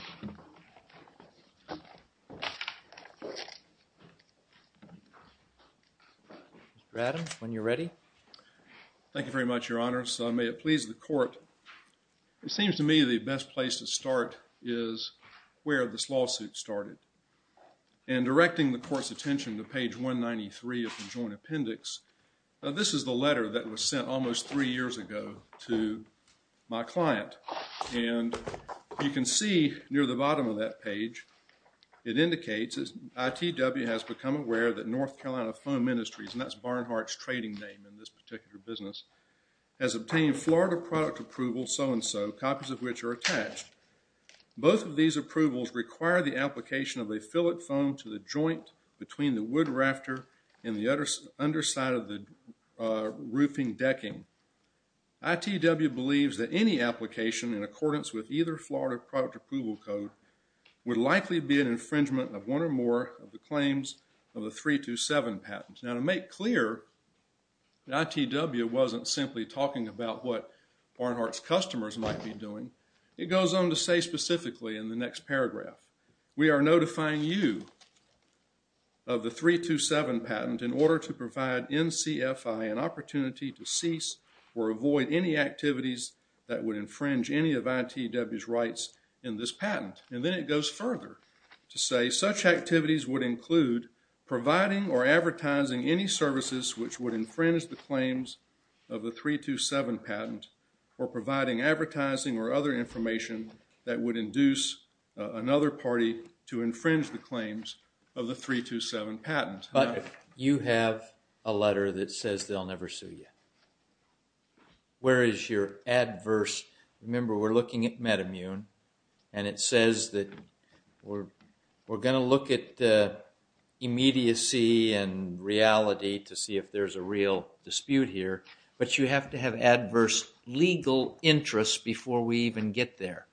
Mr. Adams, when you're ready. Thank you very much, Your Honor. So may it please the Court, it seems to me the best place to start is where this lawsuit started. And directing the Court's attention to page 193 of the Joint Appendix, this is the letter that was sent almost three years ago to my client. And you can see near the bottom of that page, it indicates, ITW has become aware that North Carolina Foam Industries, and that's Barnhardt's trading name in this particular business, has obtained Florida product approval, so-and-so, copies of which are attached. Both of these approvals require the application of a fillet foam to the joint between the wood rafter and the underside of the roofing decking. ITW believes that any application in accordance with either Florida product approval code would likely be an infringement of one or more of the claims of the 327 patent. Now, to make clear, ITW wasn't simply talking about what Barnhardt's customers might be doing. It goes on to say specifically in the next paragraph, we are notifying you of the 327 patent in order to provide NCFI an opportunity to cease or avoid any activities that would infringe any of ITW's rights in this patent. And then it goes further to say such activities would include providing or advertising any services which would infringe the claims of the 327 patent or providing advertising or other information that would induce another party to infringe the claims of the 327 patent. But you have a letter that says they'll never sue you. Where is your adverse, remember we're looking at Metamune, and it says that we're going to look at immediacy and reality to see if there's a real dispute here, but you have to have adverse legal interests before we even get there.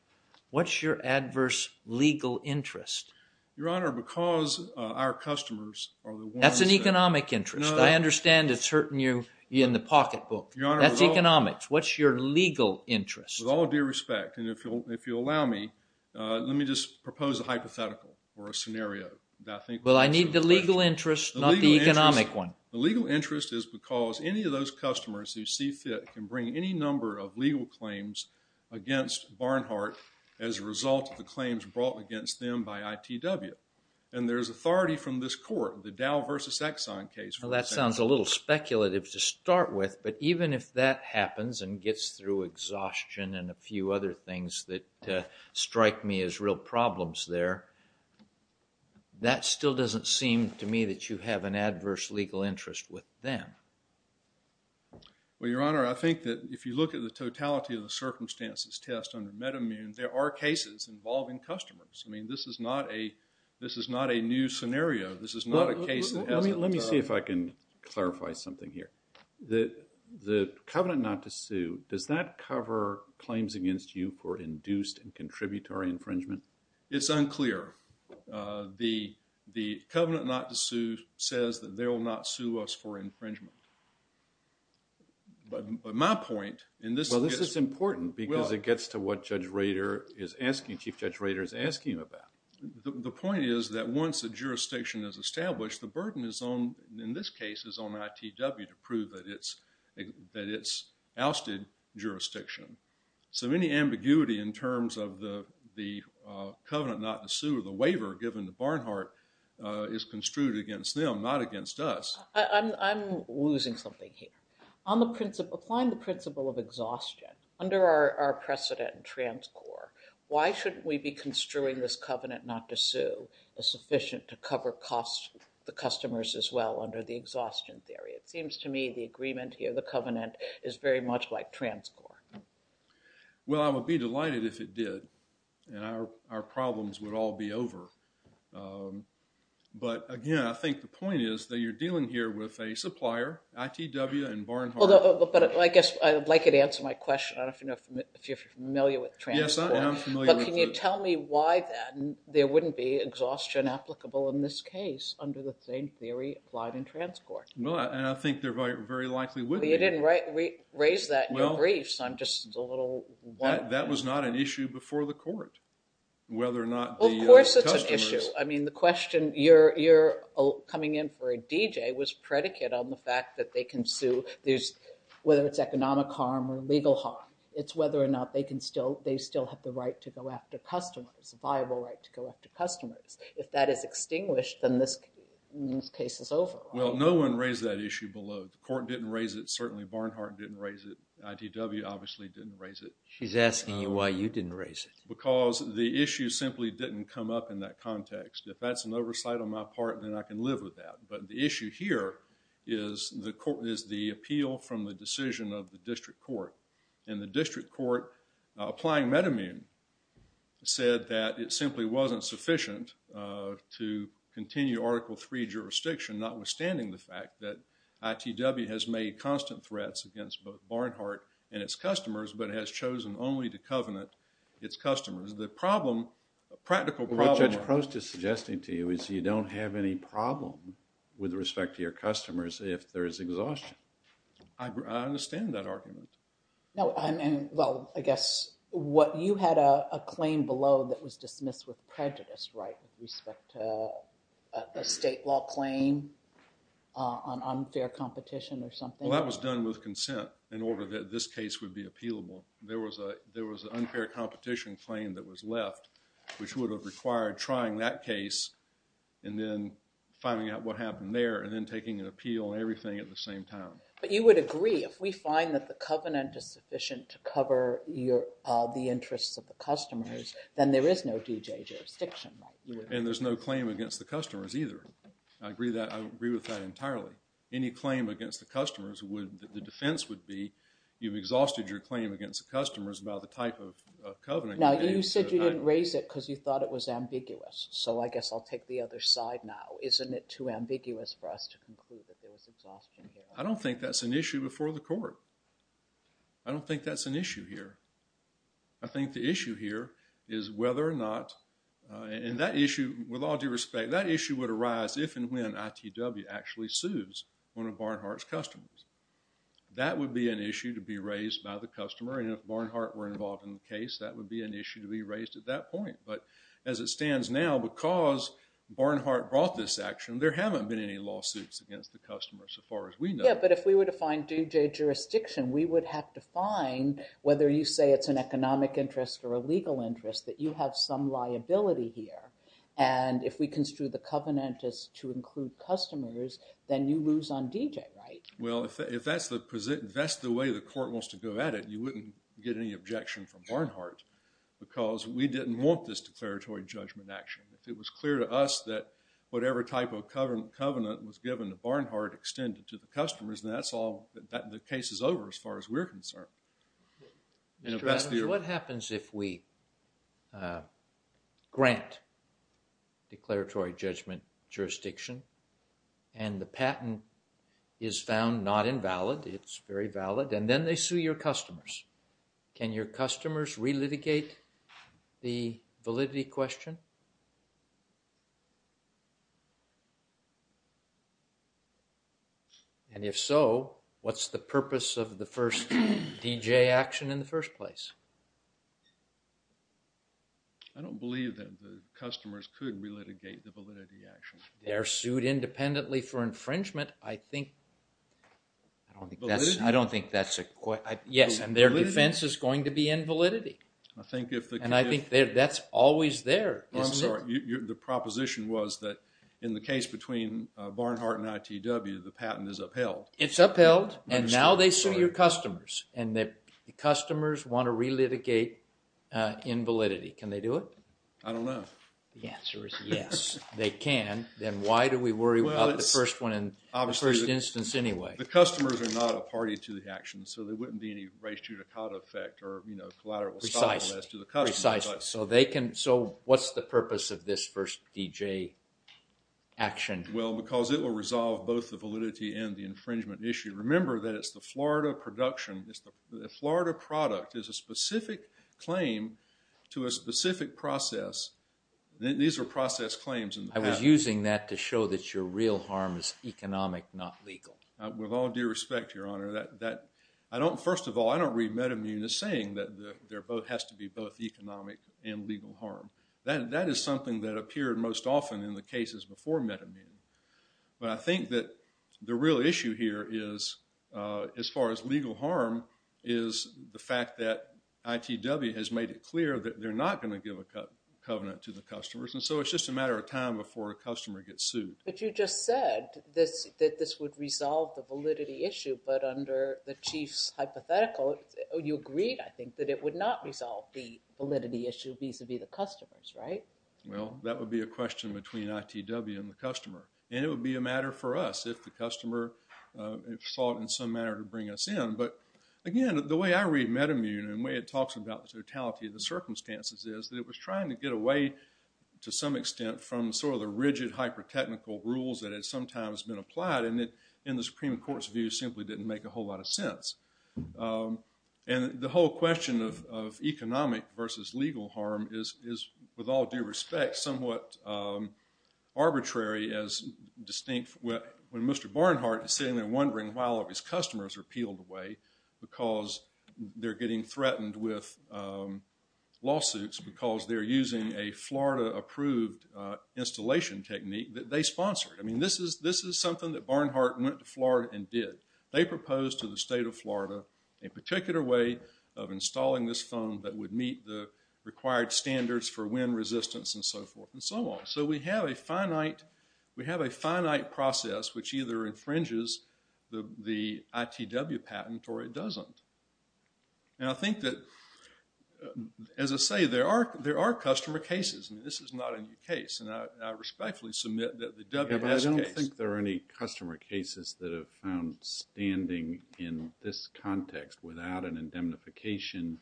What's your adverse legal interest? Your Honor, because our customers... That's an economic interest. I understand it's hurting you in the pocketbook. That's economics. What's your legal interest? With all due respect, and if you'll allow me, let me just propose a hypothetical or A legal interest is because any of those customers who see fit can bring any number of legal claims against Barnhart as a result of the claims brought against them by ITW. And there's authority from this court, the Dow versus Exxon case. Well that sounds a little speculative to start with, but even if that happens and gets through exhaustion and a few other things that strike me as real there, that still doesn't seem to me that you have an adverse legal interest with them. Well, Your Honor, I think that if you look at the totality of the circumstances test under Metamune, there are cases involving customers. I mean, this is not a new scenario. This is not a case... Let me see if I can clarify something here. The covenant not to sue, does that cover claims against you for induced and contributory infringement? It's unclear. The covenant not to sue says that they will not sue us for infringement. But my point in this... Well, this is important because it gets to what Judge Rader is asking, Chief Judge Rader is asking about. The point is that once a jurisdiction is established, the burden is on, in this case, on ITW to prove that it's ousted jurisdiction. So any ambiguity in terms of the covenant not to sue or the waiver given to Barnhart is construed against them, not against us. I'm losing something here. On the principle... Applying the principle of exhaustion under our precedent in Transcorp, why shouldn't we be construing this covenant not to sue as sufficient to cover cost the customers as well under the exhaustion theory? It seems to me the agreement here, the covenant, is very much like Transcorp. Well, I would be delighted if it did and our problems would all be over. But again, I think the point is that you're dealing here with a supplier, ITW and Barnhart. But I guess I'd like you to answer my question. I don't know if you're familiar with Transcorp. Yes, I am familiar with it. But can you tell me why then there wouldn't be exhaustion applicable in this case under the same theory applied in Transcorp? Well, and I think they're very likely... Well, you didn't raise that in your brief, so I'm just a little... That was not an issue before the court, whether or not the... Well, of course it's an issue. I mean, the question... You're coming in for a DJ was predicate on the fact that they can sue. Whether it's economic harm or legal harm, it's whether or not they can still... They still have the right to go after customers, viable right to go after customers. If that is extinguished, then this case is over. Well, no one raised that issue below. The court didn't raise it. Certainly, Barnhart didn't raise it. ITW obviously didn't raise it. She's asking you why you didn't raise it. Because the issue simply didn't come up in that context. If that's an oversight on my part, then I can live with that. But the issue here is the appeal from the decision of the district court. And the district court applying Metamune said that it simply wasn't sufficient to continue Article III jurisdiction notwithstanding the fact that ITW has made constant threats against both Barnhart and its customers but has chosen only to covenant its customers. The problem, practical problem... What Judge Prost is suggesting to you is you don't have any problem with respect to your customers if there is exhaustion. I understand that argument. No, I mean, well, I guess what you had a claim below that was dismissed with prejudice, right? With respect to a state law claim on unfair competition or something? Well, that was done with consent in order that this case would be appealable. There was a, there was an unfair competition claim that was left which would have required trying that case and then finding out what happened there and then taking an appeal and everything at the same time. But you would agree if we find that the covenant is sufficient to cover the interests of the customers, then there is no D.J. jurisdiction, right? And there's no claim against the customers either. I agree with that entirely. Any claim against the customers would, the defense would be you've exhausted your claim against the customers about the type of covenant. Now, you said you didn't raise it because you thought it was ambiguous. So, I guess I'll take the other side now. Isn't it too ambiguous for us to conclude that there was exhaustion here? I don't think that's an issue before the court. I don't think that's an issue here. I think the issue here is whether or not, and that issue, with all due respect, that issue would arise if and when ITW actually sues one of Barnhart's customers. That would be an issue to be raised by the customer. And if Barnhart were involved in the case, that would be an issue to be raised at that point. But as it stands now, because Barnhart brought this action, there haven't been any lawsuits against the customer so far as we know. Yeah, but if we were to find D.J. jurisdiction, we would have to find, whether you say it's an economic interest or a legal interest, that you have some liability here. And if we construe the covenant as to include customers, then you lose on D.J., right? Well, if that's the way the court wants to go at it, you wouldn't get any objection from Barnhart because we didn't want this declaratory judgment action. If it was clear to us that whatever type of covenant was given to Barnhart extended to the customers, then that's all, the case is over as far as we're concerned. Mr. Adams, what happens if we grant declaratory judgment jurisdiction and the patent is found not invalid, it's very valid, and then they sue your customers? Can your customers re-litigate the validity question? And if so, what's the purpose of the first D.J. action in the first place? I don't believe that the customers could re-litigate the validity action. They're sued independently for infringement, I think. I don't think that's, I don't think that's a, yes, and their defense is going to be invalidity. I think if, and I think that's always there. I'm sorry, the proposition was that in the case between Barnhart and ITW, the patent is upheld. It's upheld and now they sue your customers and the customers want to re-litigate invalidity. Can they do it? I don't know. The answer is yes, they can. Then why do we worry about the first one in the first instance anyway? The customers are not a party to the action, so there wouldn't be any race judicata effect or, you know, collateral to the customer. Precisely, so they can, so what's the purpose of this first D.J. action? Well, because it will resolve both the validity and the infringement issue. Remember that it's the Florida production, it's the Florida product is a specific claim to a specific process. These are process claims in the patent. I was using that to show that your real harm is economic, not legal. With all due respect, Your Honor, that, I don't, first of all, I don't read MetaMun as saying that there has to be both economic and legal harm. That is something that appeared most often in the cases before MetaMun, but I think that the real issue here is, as far as legal harm, is the fact that ITW has made it clear that they're not going to give a covenant to the customers and so it's just a matter of time before a customer gets sued. But you just said that this would resolve the validity issue, but under the Chief's hypothetical, you agreed, I think, that it would not resolve the validity issue vis-a-vis the customers, right? Well, that would be a question between ITW and the customer, and it would be a matter for us if the customer saw it in some manner to bring us in, but again, the way I read MetaMun and the way it talks about the totality of the circumstances is that it was trying to get away, to some extent, from sort of the rigid hyper-technical rules that had sometimes been applied and it, in the Supreme Court's view, simply didn't make a whole lot of sense. And the whole question of economic versus legal harm is, with all due respect, somewhat arbitrary as distinct when Mr. Barnhart is sitting there wondering why all of his customers are peeled away because they're getting threatened with lawsuits because they're using a Florida-approved installation technique that they sponsored. I mean, this is something that Barnhart went to Florida and did. They proposed to the state of Florida a particular way of installing this phone that would meet the required standards for wind resistance and so forth and so on. So, we have a finite process which either infringes the ITW patent or it doesn't. And I think that, as I say, there are customer cases, and this is not a new case, and I respectfully submit that the WS case... But I don't think there are any customer cases that have found standing in this context without an indemnification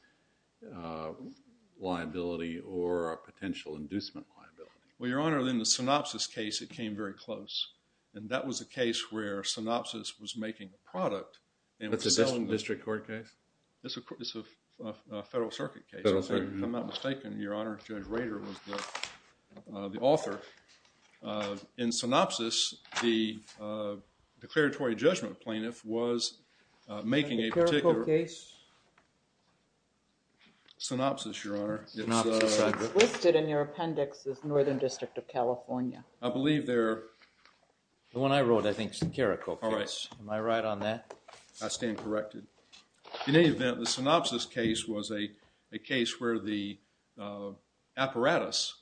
liability or a potential inducement liability. Well, Your Honor, in the synopsis case, it came very close. And that was a case where synopsis was making a product. That's a District Court case? It's a Federal Circuit case, if I'm not mistaken, Your Honor. Judge Rader was the author. In synopsis, the declaratory judgment plaintiff was making a particular case. Synopsis, Your Honor. It's listed in your appendix as Northern District of California. I believe they're... The one I wrote, I think, is the Carrico case. Am I right on that? I stand corrected. In any event, the synopsis case was a case where the apparatus...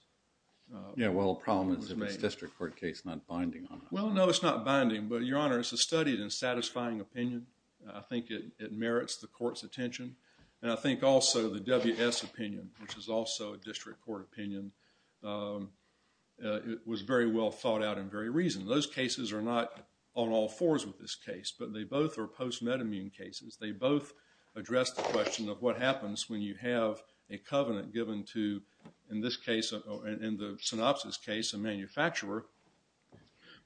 Yeah, well, the problem is if it's a District Court case, it's not binding on that. Well, no, it's not binding. But, Your Honor, it's a studied and satisfying opinion. I think it merits the Court's attention. And I think also the WS opinion, which is also a District Court opinion, it was very well thought out and very reasoned. Those cases are not on all fours with this case, but they both are post-metamine cases. They both address the question of what happens when you have a covenant given to, in this case, in the synopsis case, a manufacturer,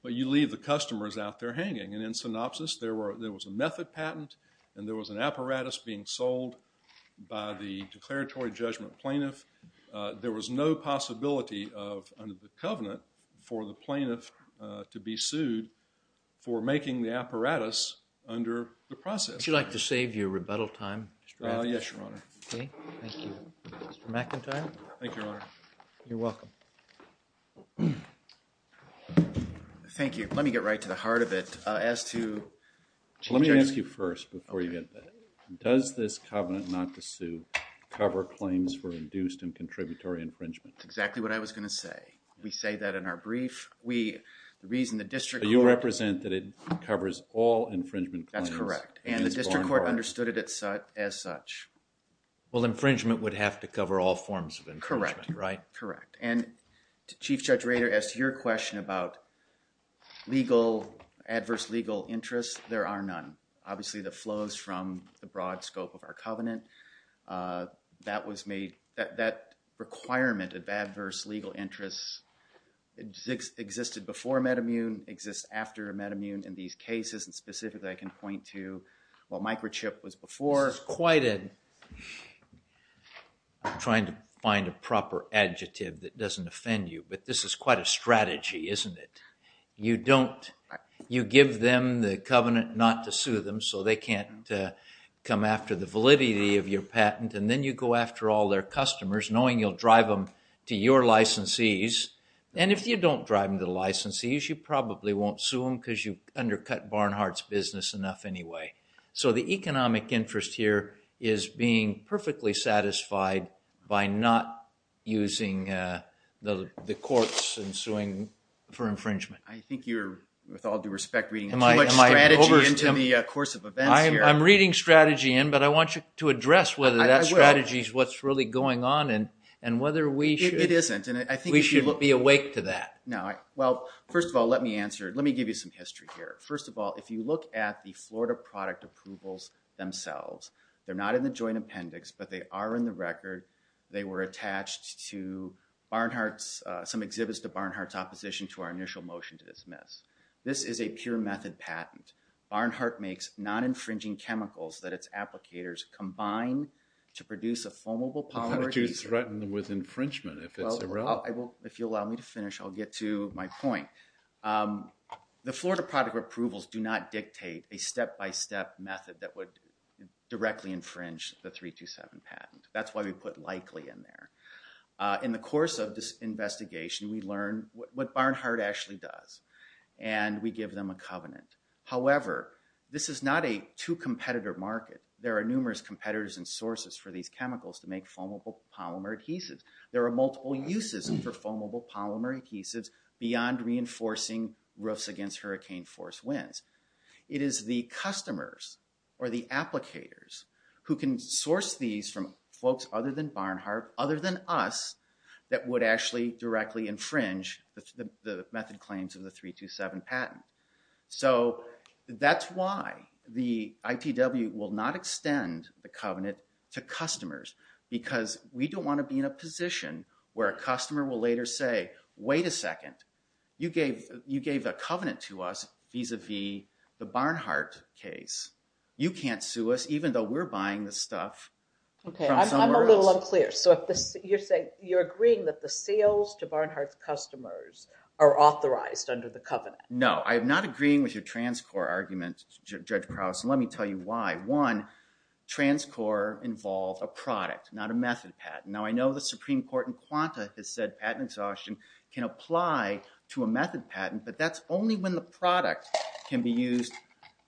but you leave the customers out there hanging. And in synopsis, there was a method patent, and there was an apparatus being sold by the declaratory judgment plaintiff. There was no possibility of, under the covenant, for the plaintiff to be sued for making the apparatus under the process. Would you like to save your rebuttal time, Mr. Rafferty? Yes, Your Honor. Okay, thank you. Mr. McIntyre? Thank you, Your Honor. You're welcome. Thank you. Let me get right to the heart of it. As to... Let me ask you first before you get to that. Does this covenant not to sue cover claims for induced and contributory infringement? That's exactly what I was going to say. We say that in our brief. We, the reason the district court... You represent that it covers all infringement claims. That's correct. And the district court understood it as such. Well, infringement would have to cover all forms of infringement, right? Correct. And Chief Judge Rader, as to your question about legal, adverse legal interests, there are none. Obviously, that flows from the broad scope of our covenant. That was made... That requirement of adverse legal interests existed before a metamune, exists after a metamune in these cases. And specifically, I can point to what microchip was before. This is quite a... I'm trying to find a proper adjective that doesn't offend you, but this is quite a strategy, isn't it? You don't... You give them the covenant not to sue them, so they can't come after the validity of your patent. And then you go after all their customers, knowing you'll drive them to your licensees. And if you don't drive them to the licensees, you probably won't sue them because you undercut Barnhart's business enough anyway. So the economic interest here is being perfectly satisfied by not using the courts and suing for infringement. I think you're, with all due respect, reading too much strategy into the course of events here. I'm reading strategy in, but I want you to address whether that strategy is what's really going on and whether we should be awake to that. No. Well, first of all, let me answer. Let me give you some history here. First of all, if you look at the Florida product approvals themselves, they're not in the joint appendix, but they are in the record. They were attached to Barnhart's, some exhibits to Barnhart's opposition to our initial motion to dismiss. This is a pure method patent. Barnhart makes non-infringing chemicals that its applicators combine to produce a flammable powder. How do you threaten them with infringement if it's irrelevant? If you'll allow me to finish, I'll get to my point. The Florida product approvals do not dictate a step-by-step method that would directly infringe the 327 patent. That's why we put likely in there. In the course of this investigation, we learn what Barnhart actually does and we give them a covenant. However, this is not a two competitor market. There are numerous competitors and sources for these chemicals to make foamable polymer adhesives. There are multiple uses for foamable polymer adhesives beyond reinforcing roofs against hurricane force winds. It is the customers or the applicators who can source these from folks other than Barnhart, other than us that would actually directly infringe the method claims of the 327 patent. So that's why the ITW will not extend the covenant to customers because we don't want to be in a position where a customer will later say, wait a second, you gave a covenant to us vis-a-vis the Barnhart case. You can't sue us even though we're buying the stuff. Okay, I'm a little unclear. So you're saying you're agreeing that the sales to Barnhart's customers are authorized under the covenant? No, I'm not agreeing with your Transcorp argument, Judge Krauss. And let me tell you why. One, Transcorp involved a product, not a method patent. Now, I know the Supreme Court in Quanta has said patent exhaustion can apply to a method patent, but that's only when the product can be used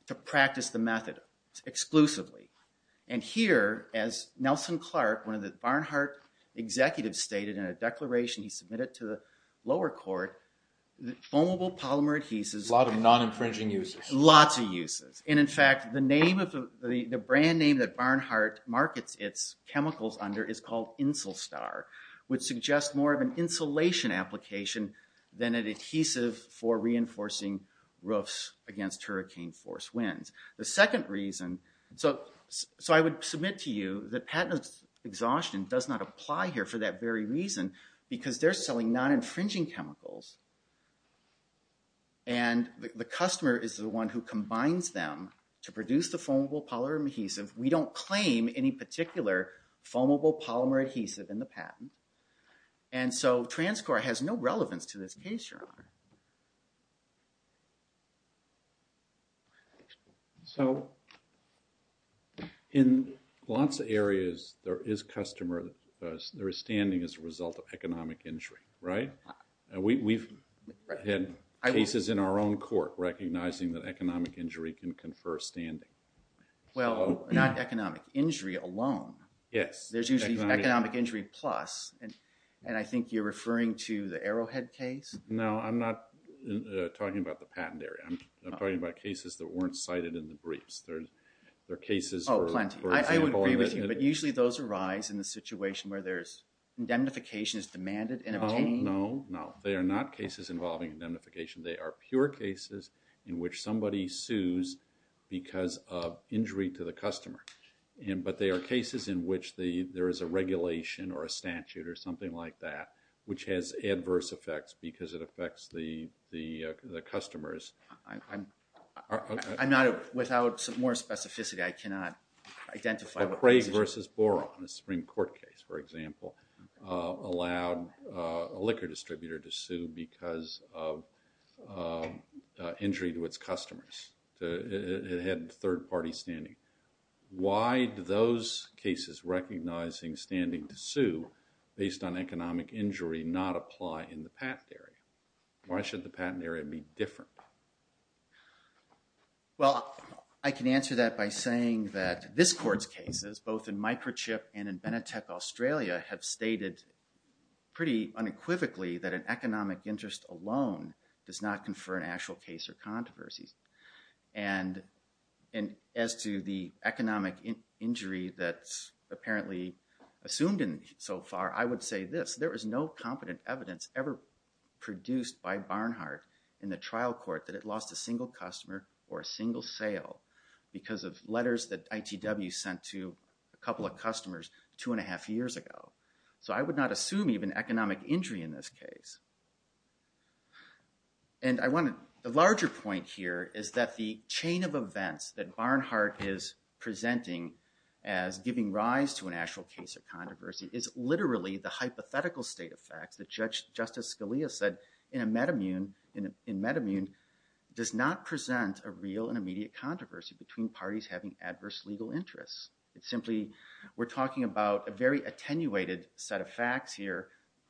to practice the method exclusively. And here, as Nelson Clark, one of the Barnhart executives, stated in a declaration he submitted to the lower court, the foamable polymer adhesives... A lot of non-infringing uses. Lots of uses. And in fact, the brand name that Barnhart markets its chemicals under is called Insulstar, which suggests more of an insulation application than an adhesive for reinforcing roofs against hurricane force winds. The second reason... So I would submit to you that patent exhaustion does not apply here for that very reason because they're selling non-infringing chemicals. And the customer is the one who combines them to produce the foamable polymer adhesive. We don't claim any particular foamable polymer adhesive in the patent. And so Transcorp has no relevance to this case, Your Honor. So in lots of areas, there is customer... There is standing as a result of economic injury, right? We've had cases in our own court recognizing that economic injury can confer standing. Well, not economic injury alone. Yes. There's usually economic injury plus. And I think you're referring to the Arrowhead case? No, I'm not talking about the patent area. I'm talking about cases that weren't cited in the briefs. There are cases... Oh, plenty. I would agree with you. But usually those arise in the situation where there's indemnification is demanded and obtained. No, no, no. They are not cases involving indemnification. They are pure cases in which somebody sues because of injury to the customer. But they are cases in which there is a regulation or a statute or something like that, which has adverse effects because it affects the customers. I'm not... Without some more specificity, I cannot identify... McRae versus Boron, the Supreme Court case, for example, allowed a liquor distributor to sue because of injury to its customers. It had third-party standing. Why do those cases recognizing standing to sue based on economic injury not apply in the patent area? Why should the patent area be different? Well, I can answer that by saying that this Court's cases, both in Microchip and in Benetech Australia, have stated pretty unequivocally that an economic interest alone does not confer an actual case or controversies. And as to the economic injury that's apparently assumed so far, I would say this. There was no competent evidence ever produced by Barnhart in the trial court that it lost a single customer or a single sale because of letters that ITW sent to a couple of customers two and a half years ago. So I would not assume even economic injury in this case. And I want a larger point here is that the chain of events that Barnhart is presenting as giving rise to an actual case or controversy is literally the hypothetical state of facts that Judge Justice Scalia said in Metamune does not present a real and immediate controversy between parties having adverse legal interests. It's simply, we're talking about a very attenuated set of facts here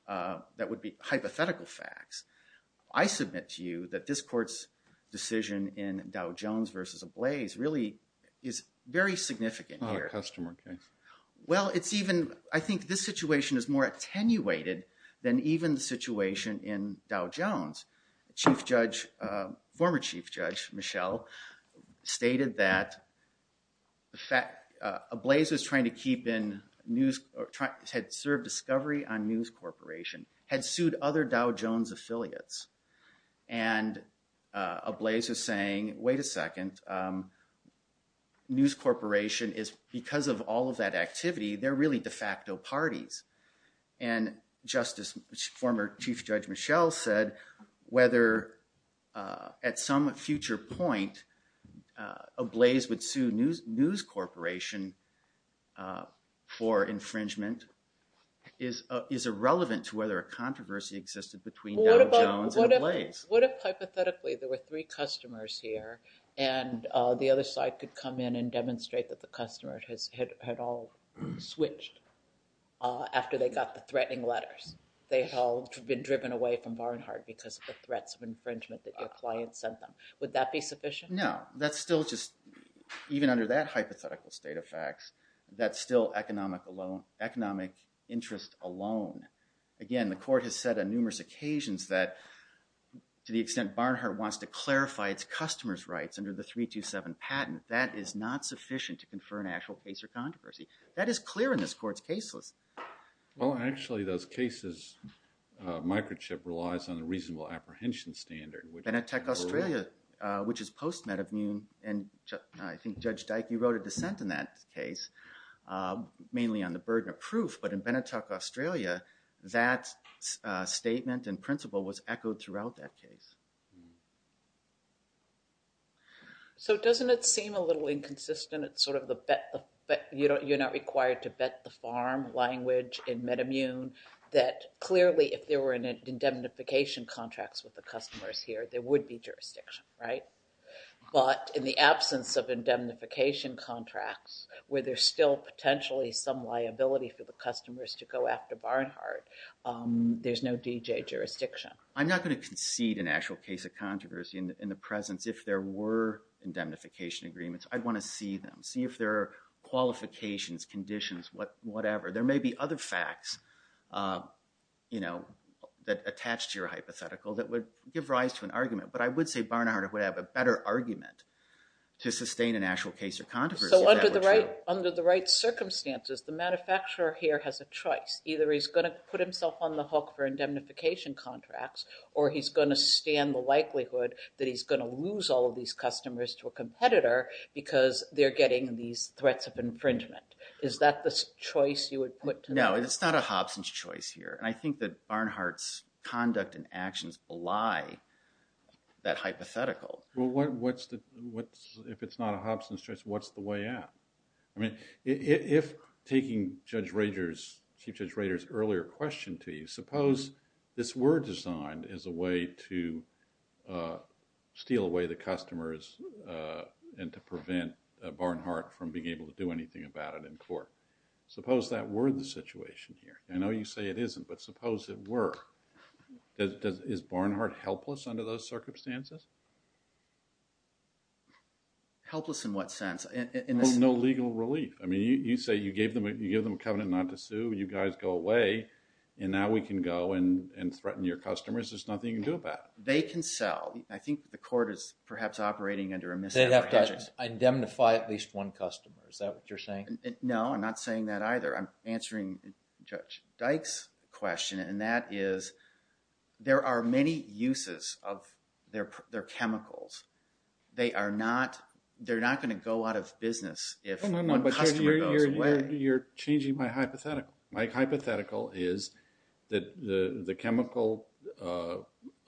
that would be hypothetical facts. I submit to you that this court's decision in Dow Jones versus Ablaze really is very significant here. Not a customer case. Well, it's even, I think this situation is more attenuated than even the situation in Dow Jones. Chief Judge, former Chief Judge Michelle stated that Ablaze was trying to keep in news, had served discovery on news corporation, had sued other Dow Jones affiliates. And Ablaze was saying, wait a second, news corporation is, because of all of that activity, they're really de facto parties. And Justice, former Chief Judge Michelle said, whether at some future point, Ablaze would sue news corporation for infringement is irrelevant to whether a controversy existed between Dow Jones and Ablaze. What if hypothetically, there were three customers here and the other side could come in and demonstrate that the customer had all switched after they got the threatening letters. They had all been driven away from Barnhart because of the threats of infringement that your client sent them. Would that be sufficient? No, that's still just, even under that hypothetical state of facts, that's still economic alone, economic interest alone. Again, the court has said on numerous occasions that to the extent Barnhart wants to clarify its customer's rights under the 327 patent, that is not sufficient to confer an actual case or controversy. That is clear in this court's case list. Well, actually those cases, microchip relies on a reasonable apprehension standard. Benetech Australia, which is post-metamune, and I think Judge Dyke, you wrote a dissent in that case, mainly on the burden of proof, but in Benetech Australia, that statement and principle was echoed throughout that case. So doesn't it seem a little inconsistent? It's sort of the bet, you're not required to bet the farm language in metamune that clearly if there were indemnification contracts with the customers here, there would be jurisdiction, right? But in the absence of indemnification contracts where there's still potentially some liability for the customers to go after Barnhart, there's no DJ jurisdiction. I'm not going to concede an actual case of controversy in the presence if there were indemnification agreements. I'd want to see them, see if there are qualifications, conditions, whatever. There may be other facts that attach to your hypothetical that would give rise to an argument, but I would say Barnhart would have a better argument to sustain an actual case or controversy. Under the right circumstances, the manufacturer here has a choice. Either he's going to put himself on the hook for indemnification contracts or he's going to stand the likelihood that he's going to lose all of these customers to a competitor because they're getting these threats of infringement. Is that the choice you would put? No, it's not a Hobson's choice here. I think that Barnhart's conduct and actions belie that hypothetical. If it's not a Hobson's choice, what's the way out? I mean, if taking Judge Rader's, Chief Judge Rader's earlier question to you, suppose this were designed as a way to steal away the customers and to prevent Barnhart from being able to do anything about it in court. Suppose that were the situation here. I know you say it isn't, but suppose it were. Is Barnhart helpless under those circumstances? Helpless in what sense? Well, no legal relief. I mean, you say you gave them a covenant not to sue, you guys go away, and now we can go and threaten your customers. There's nothing you can do about it. They can sell. I think the court is perhaps operating under a misdemeanor hedging. They have to indemnify at least one customer. Is that what you're saying? No, I'm not saying that either. I'm answering Judge Dyke's question and that is there are many uses of their personal property and their chemicals. They are not going to go out of business if one customer goes away. You're changing my hypothetical. My hypothetical is that the chemical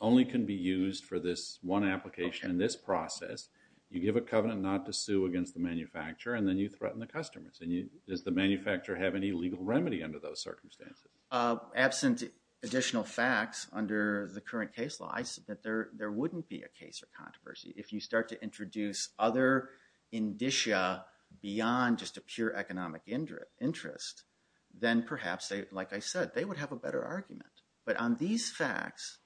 only can be used for this one application in this process. You give a covenant not to sue against the manufacturer and then you threaten the customers. And does the manufacturer have any legal remedy under those circumstances? Absent additional facts under the current case law, there wouldn't be a case or controversy. If you start to introduce other indicia beyond just a pure economic interest, then perhaps, like I said, they would have a better argument. But on these facts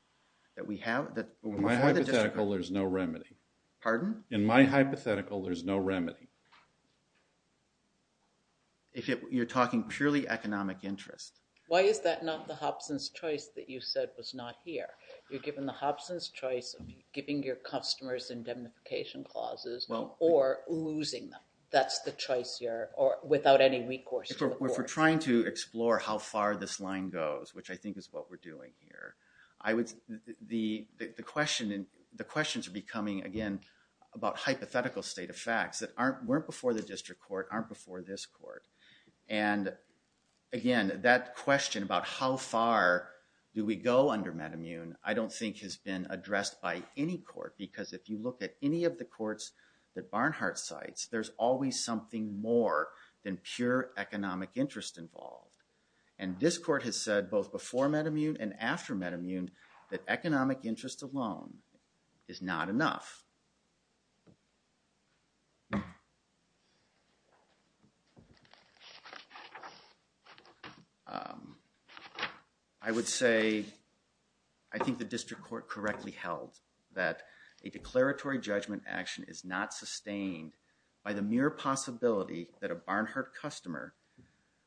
that we have... In my hypothetical, there's no remedy. Pardon? In my hypothetical, there's no remedy. You're talking purely economic interest. Why is that not the Hobson's choice that you said was not here? You're giving the Hobson's choice of giving your customers indemnification clauses or losing them. That's the choice here without any recourse to the courts. If we're trying to explore how far this line goes, which I think is what we're doing here, the questions are becoming, again, about hypothetical state of facts that weren't before the district court, aren't before this court. And again, that question about how far do we go under metamune, I don't think has been addressed by any court. Because if you look at any of the courts that Barnhart cites, there's always something more than pure economic interest involved. And this court has said both before metamune and after metamune that economic interest alone is not enough. I would say, I think the district court correctly held that a declaratory judgment action is not sustained by the mere possibility that a Barnhart customer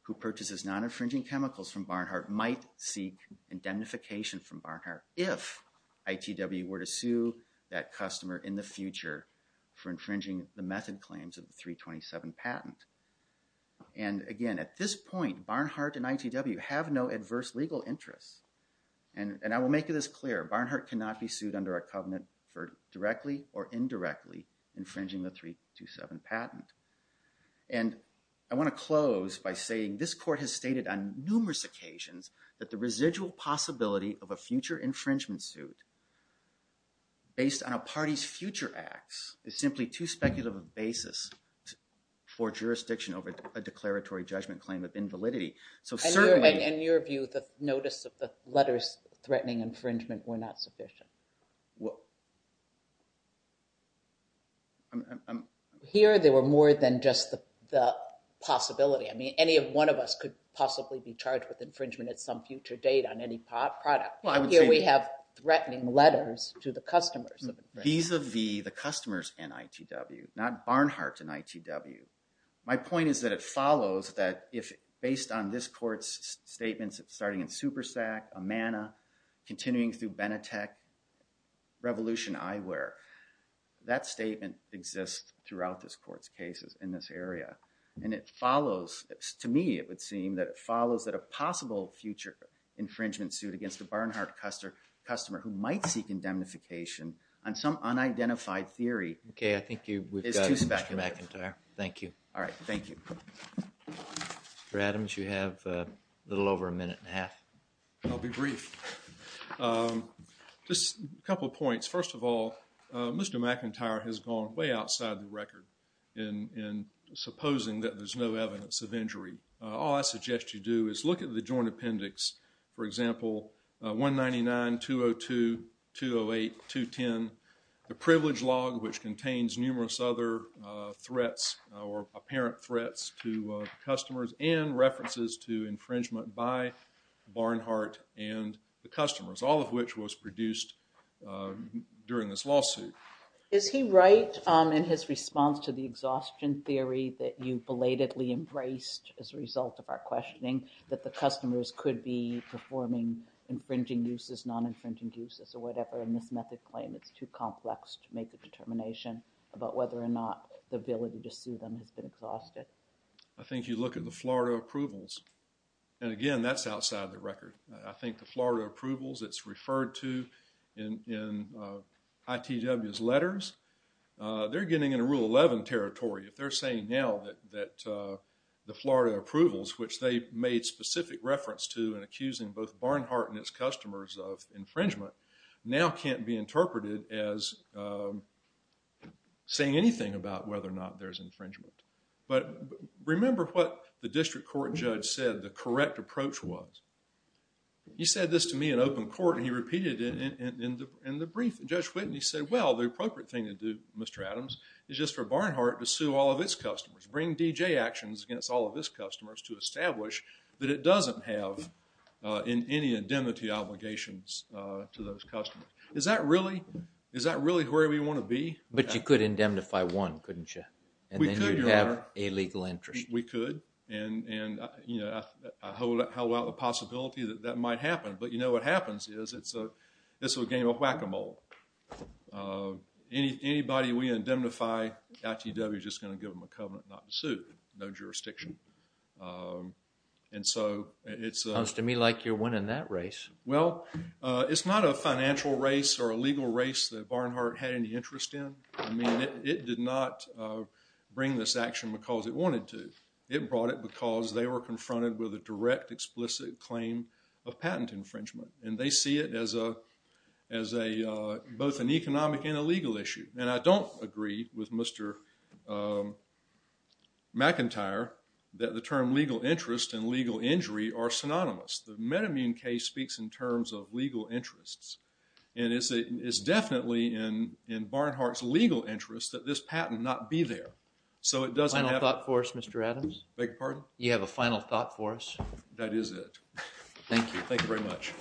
who purchases non-infringing chemicals from Barnhart might seek indemnification from Barnhart if ITW were to sue that customer in the future for infringing the method claims of the 327 patent. And again, at this point, Barnhart and ITW have no adverse legal interests. And I will make this clear, Barnhart cannot be sued under a covenant for directly or indirectly infringing the 327 patent. And I want to close by saying this court has stated on numerous occasions that the residual possibility of a future infringement suit based on a party's future acts is simply too speculative a basis for jurisdiction over a declaratory judgment claim of invalidity. So certainly— And in your view, the notice of the letters threatening infringement were not sufficient? Here, there were more than just the possibility. I mean, any one of us could possibly be charged with infringement at some future date on any product. Here we have threatening letters to the customers. Vis-a-vis the customers and ITW, not Barnhart and ITW. My point is that it follows that if based on this court's statements starting in SuperSAC, Amana, continuing through Benetech, Revolution Eyewear, that statement exists throughout this court's cases in this area. And it follows, to me, it would seem that it follows that a possible future infringement suit against a Barnhart customer who might seek indemnification on some unidentified theory— Okay, I think we've got Mr. McIntyre. Thank you. All right, thank you. Mr. Adams, you have a little over a minute and a half. I'll be brief. Just a couple of points. First of all, Mr. McIntyre has gone way outside the record in supposing that there's no evidence of injury. All I suggest you do is look at the joint appendix. For example, 199-202-208-210, the privilege log, which contains numerous other threats or apparent threats to customers and references to infringement by Barnhart and the customers, all of which was produced during this lawsuit. Is he right in his response to the exhaustion theory that you belatedly embraced as a result of our questioning that the customers could be performing infringing uses, non-infringing uses, or whatever, and this method claim it's too complex to make a determination about whether or not the ability to sue them has been exhausted? I think you look at the Florida approvals and again, that's outside the record. I think the Florida approvals, it's referred to in ITW's letters. They're getting into Rule 11 territory. If they're saying now that the Florida approvals, which they made specific reference to in accusing both Barnhart and its customers of infringement, now can't be interpreted as saying anything about whether or not there's infringement. But remember what the district court judge said the correct approach was. He said this to me in open court and he repeated it in the brief. Judge Whitney said, well, the appropriate thing to do, Mr. Adams, is just for Barnhart to sue all of its customers, bring D.J. actions against all of its customers to establish that it doesn't have in any indemnity obligations to those customers. Is that really where we want to be? But you could indemnify one, couldn't you? And then you'd have a legal interest. We could and I hold out the possibility that that might happen. But you know what happens is it's a game of whack-a-mole. Anybody we indemnify, ITW's just going to give them a covenant not to sue. No jurisdiction. And so it's— Sounds to me like you're winning that race. Well, it's not a financial race or a legal race that Barnhart had any interest in. I mean, it did not bring this action because it wanted to. It brought it because they were confronted with a direct, explicit claim of patent infringement. And they see it as both an economic and a legal issue. And I don't agree with Mr. McIntyre that the term legal interest and legal injury are synonymous. The metamine case speaks in terms of legal interests. And it's definitely in Barnhart's legal interest that this patent not be there. So, it doesn't have— Final thought for us, Mr. Adams? Beg your pardon? You have a final thought for us? That is it. Thank you. Thank you very much.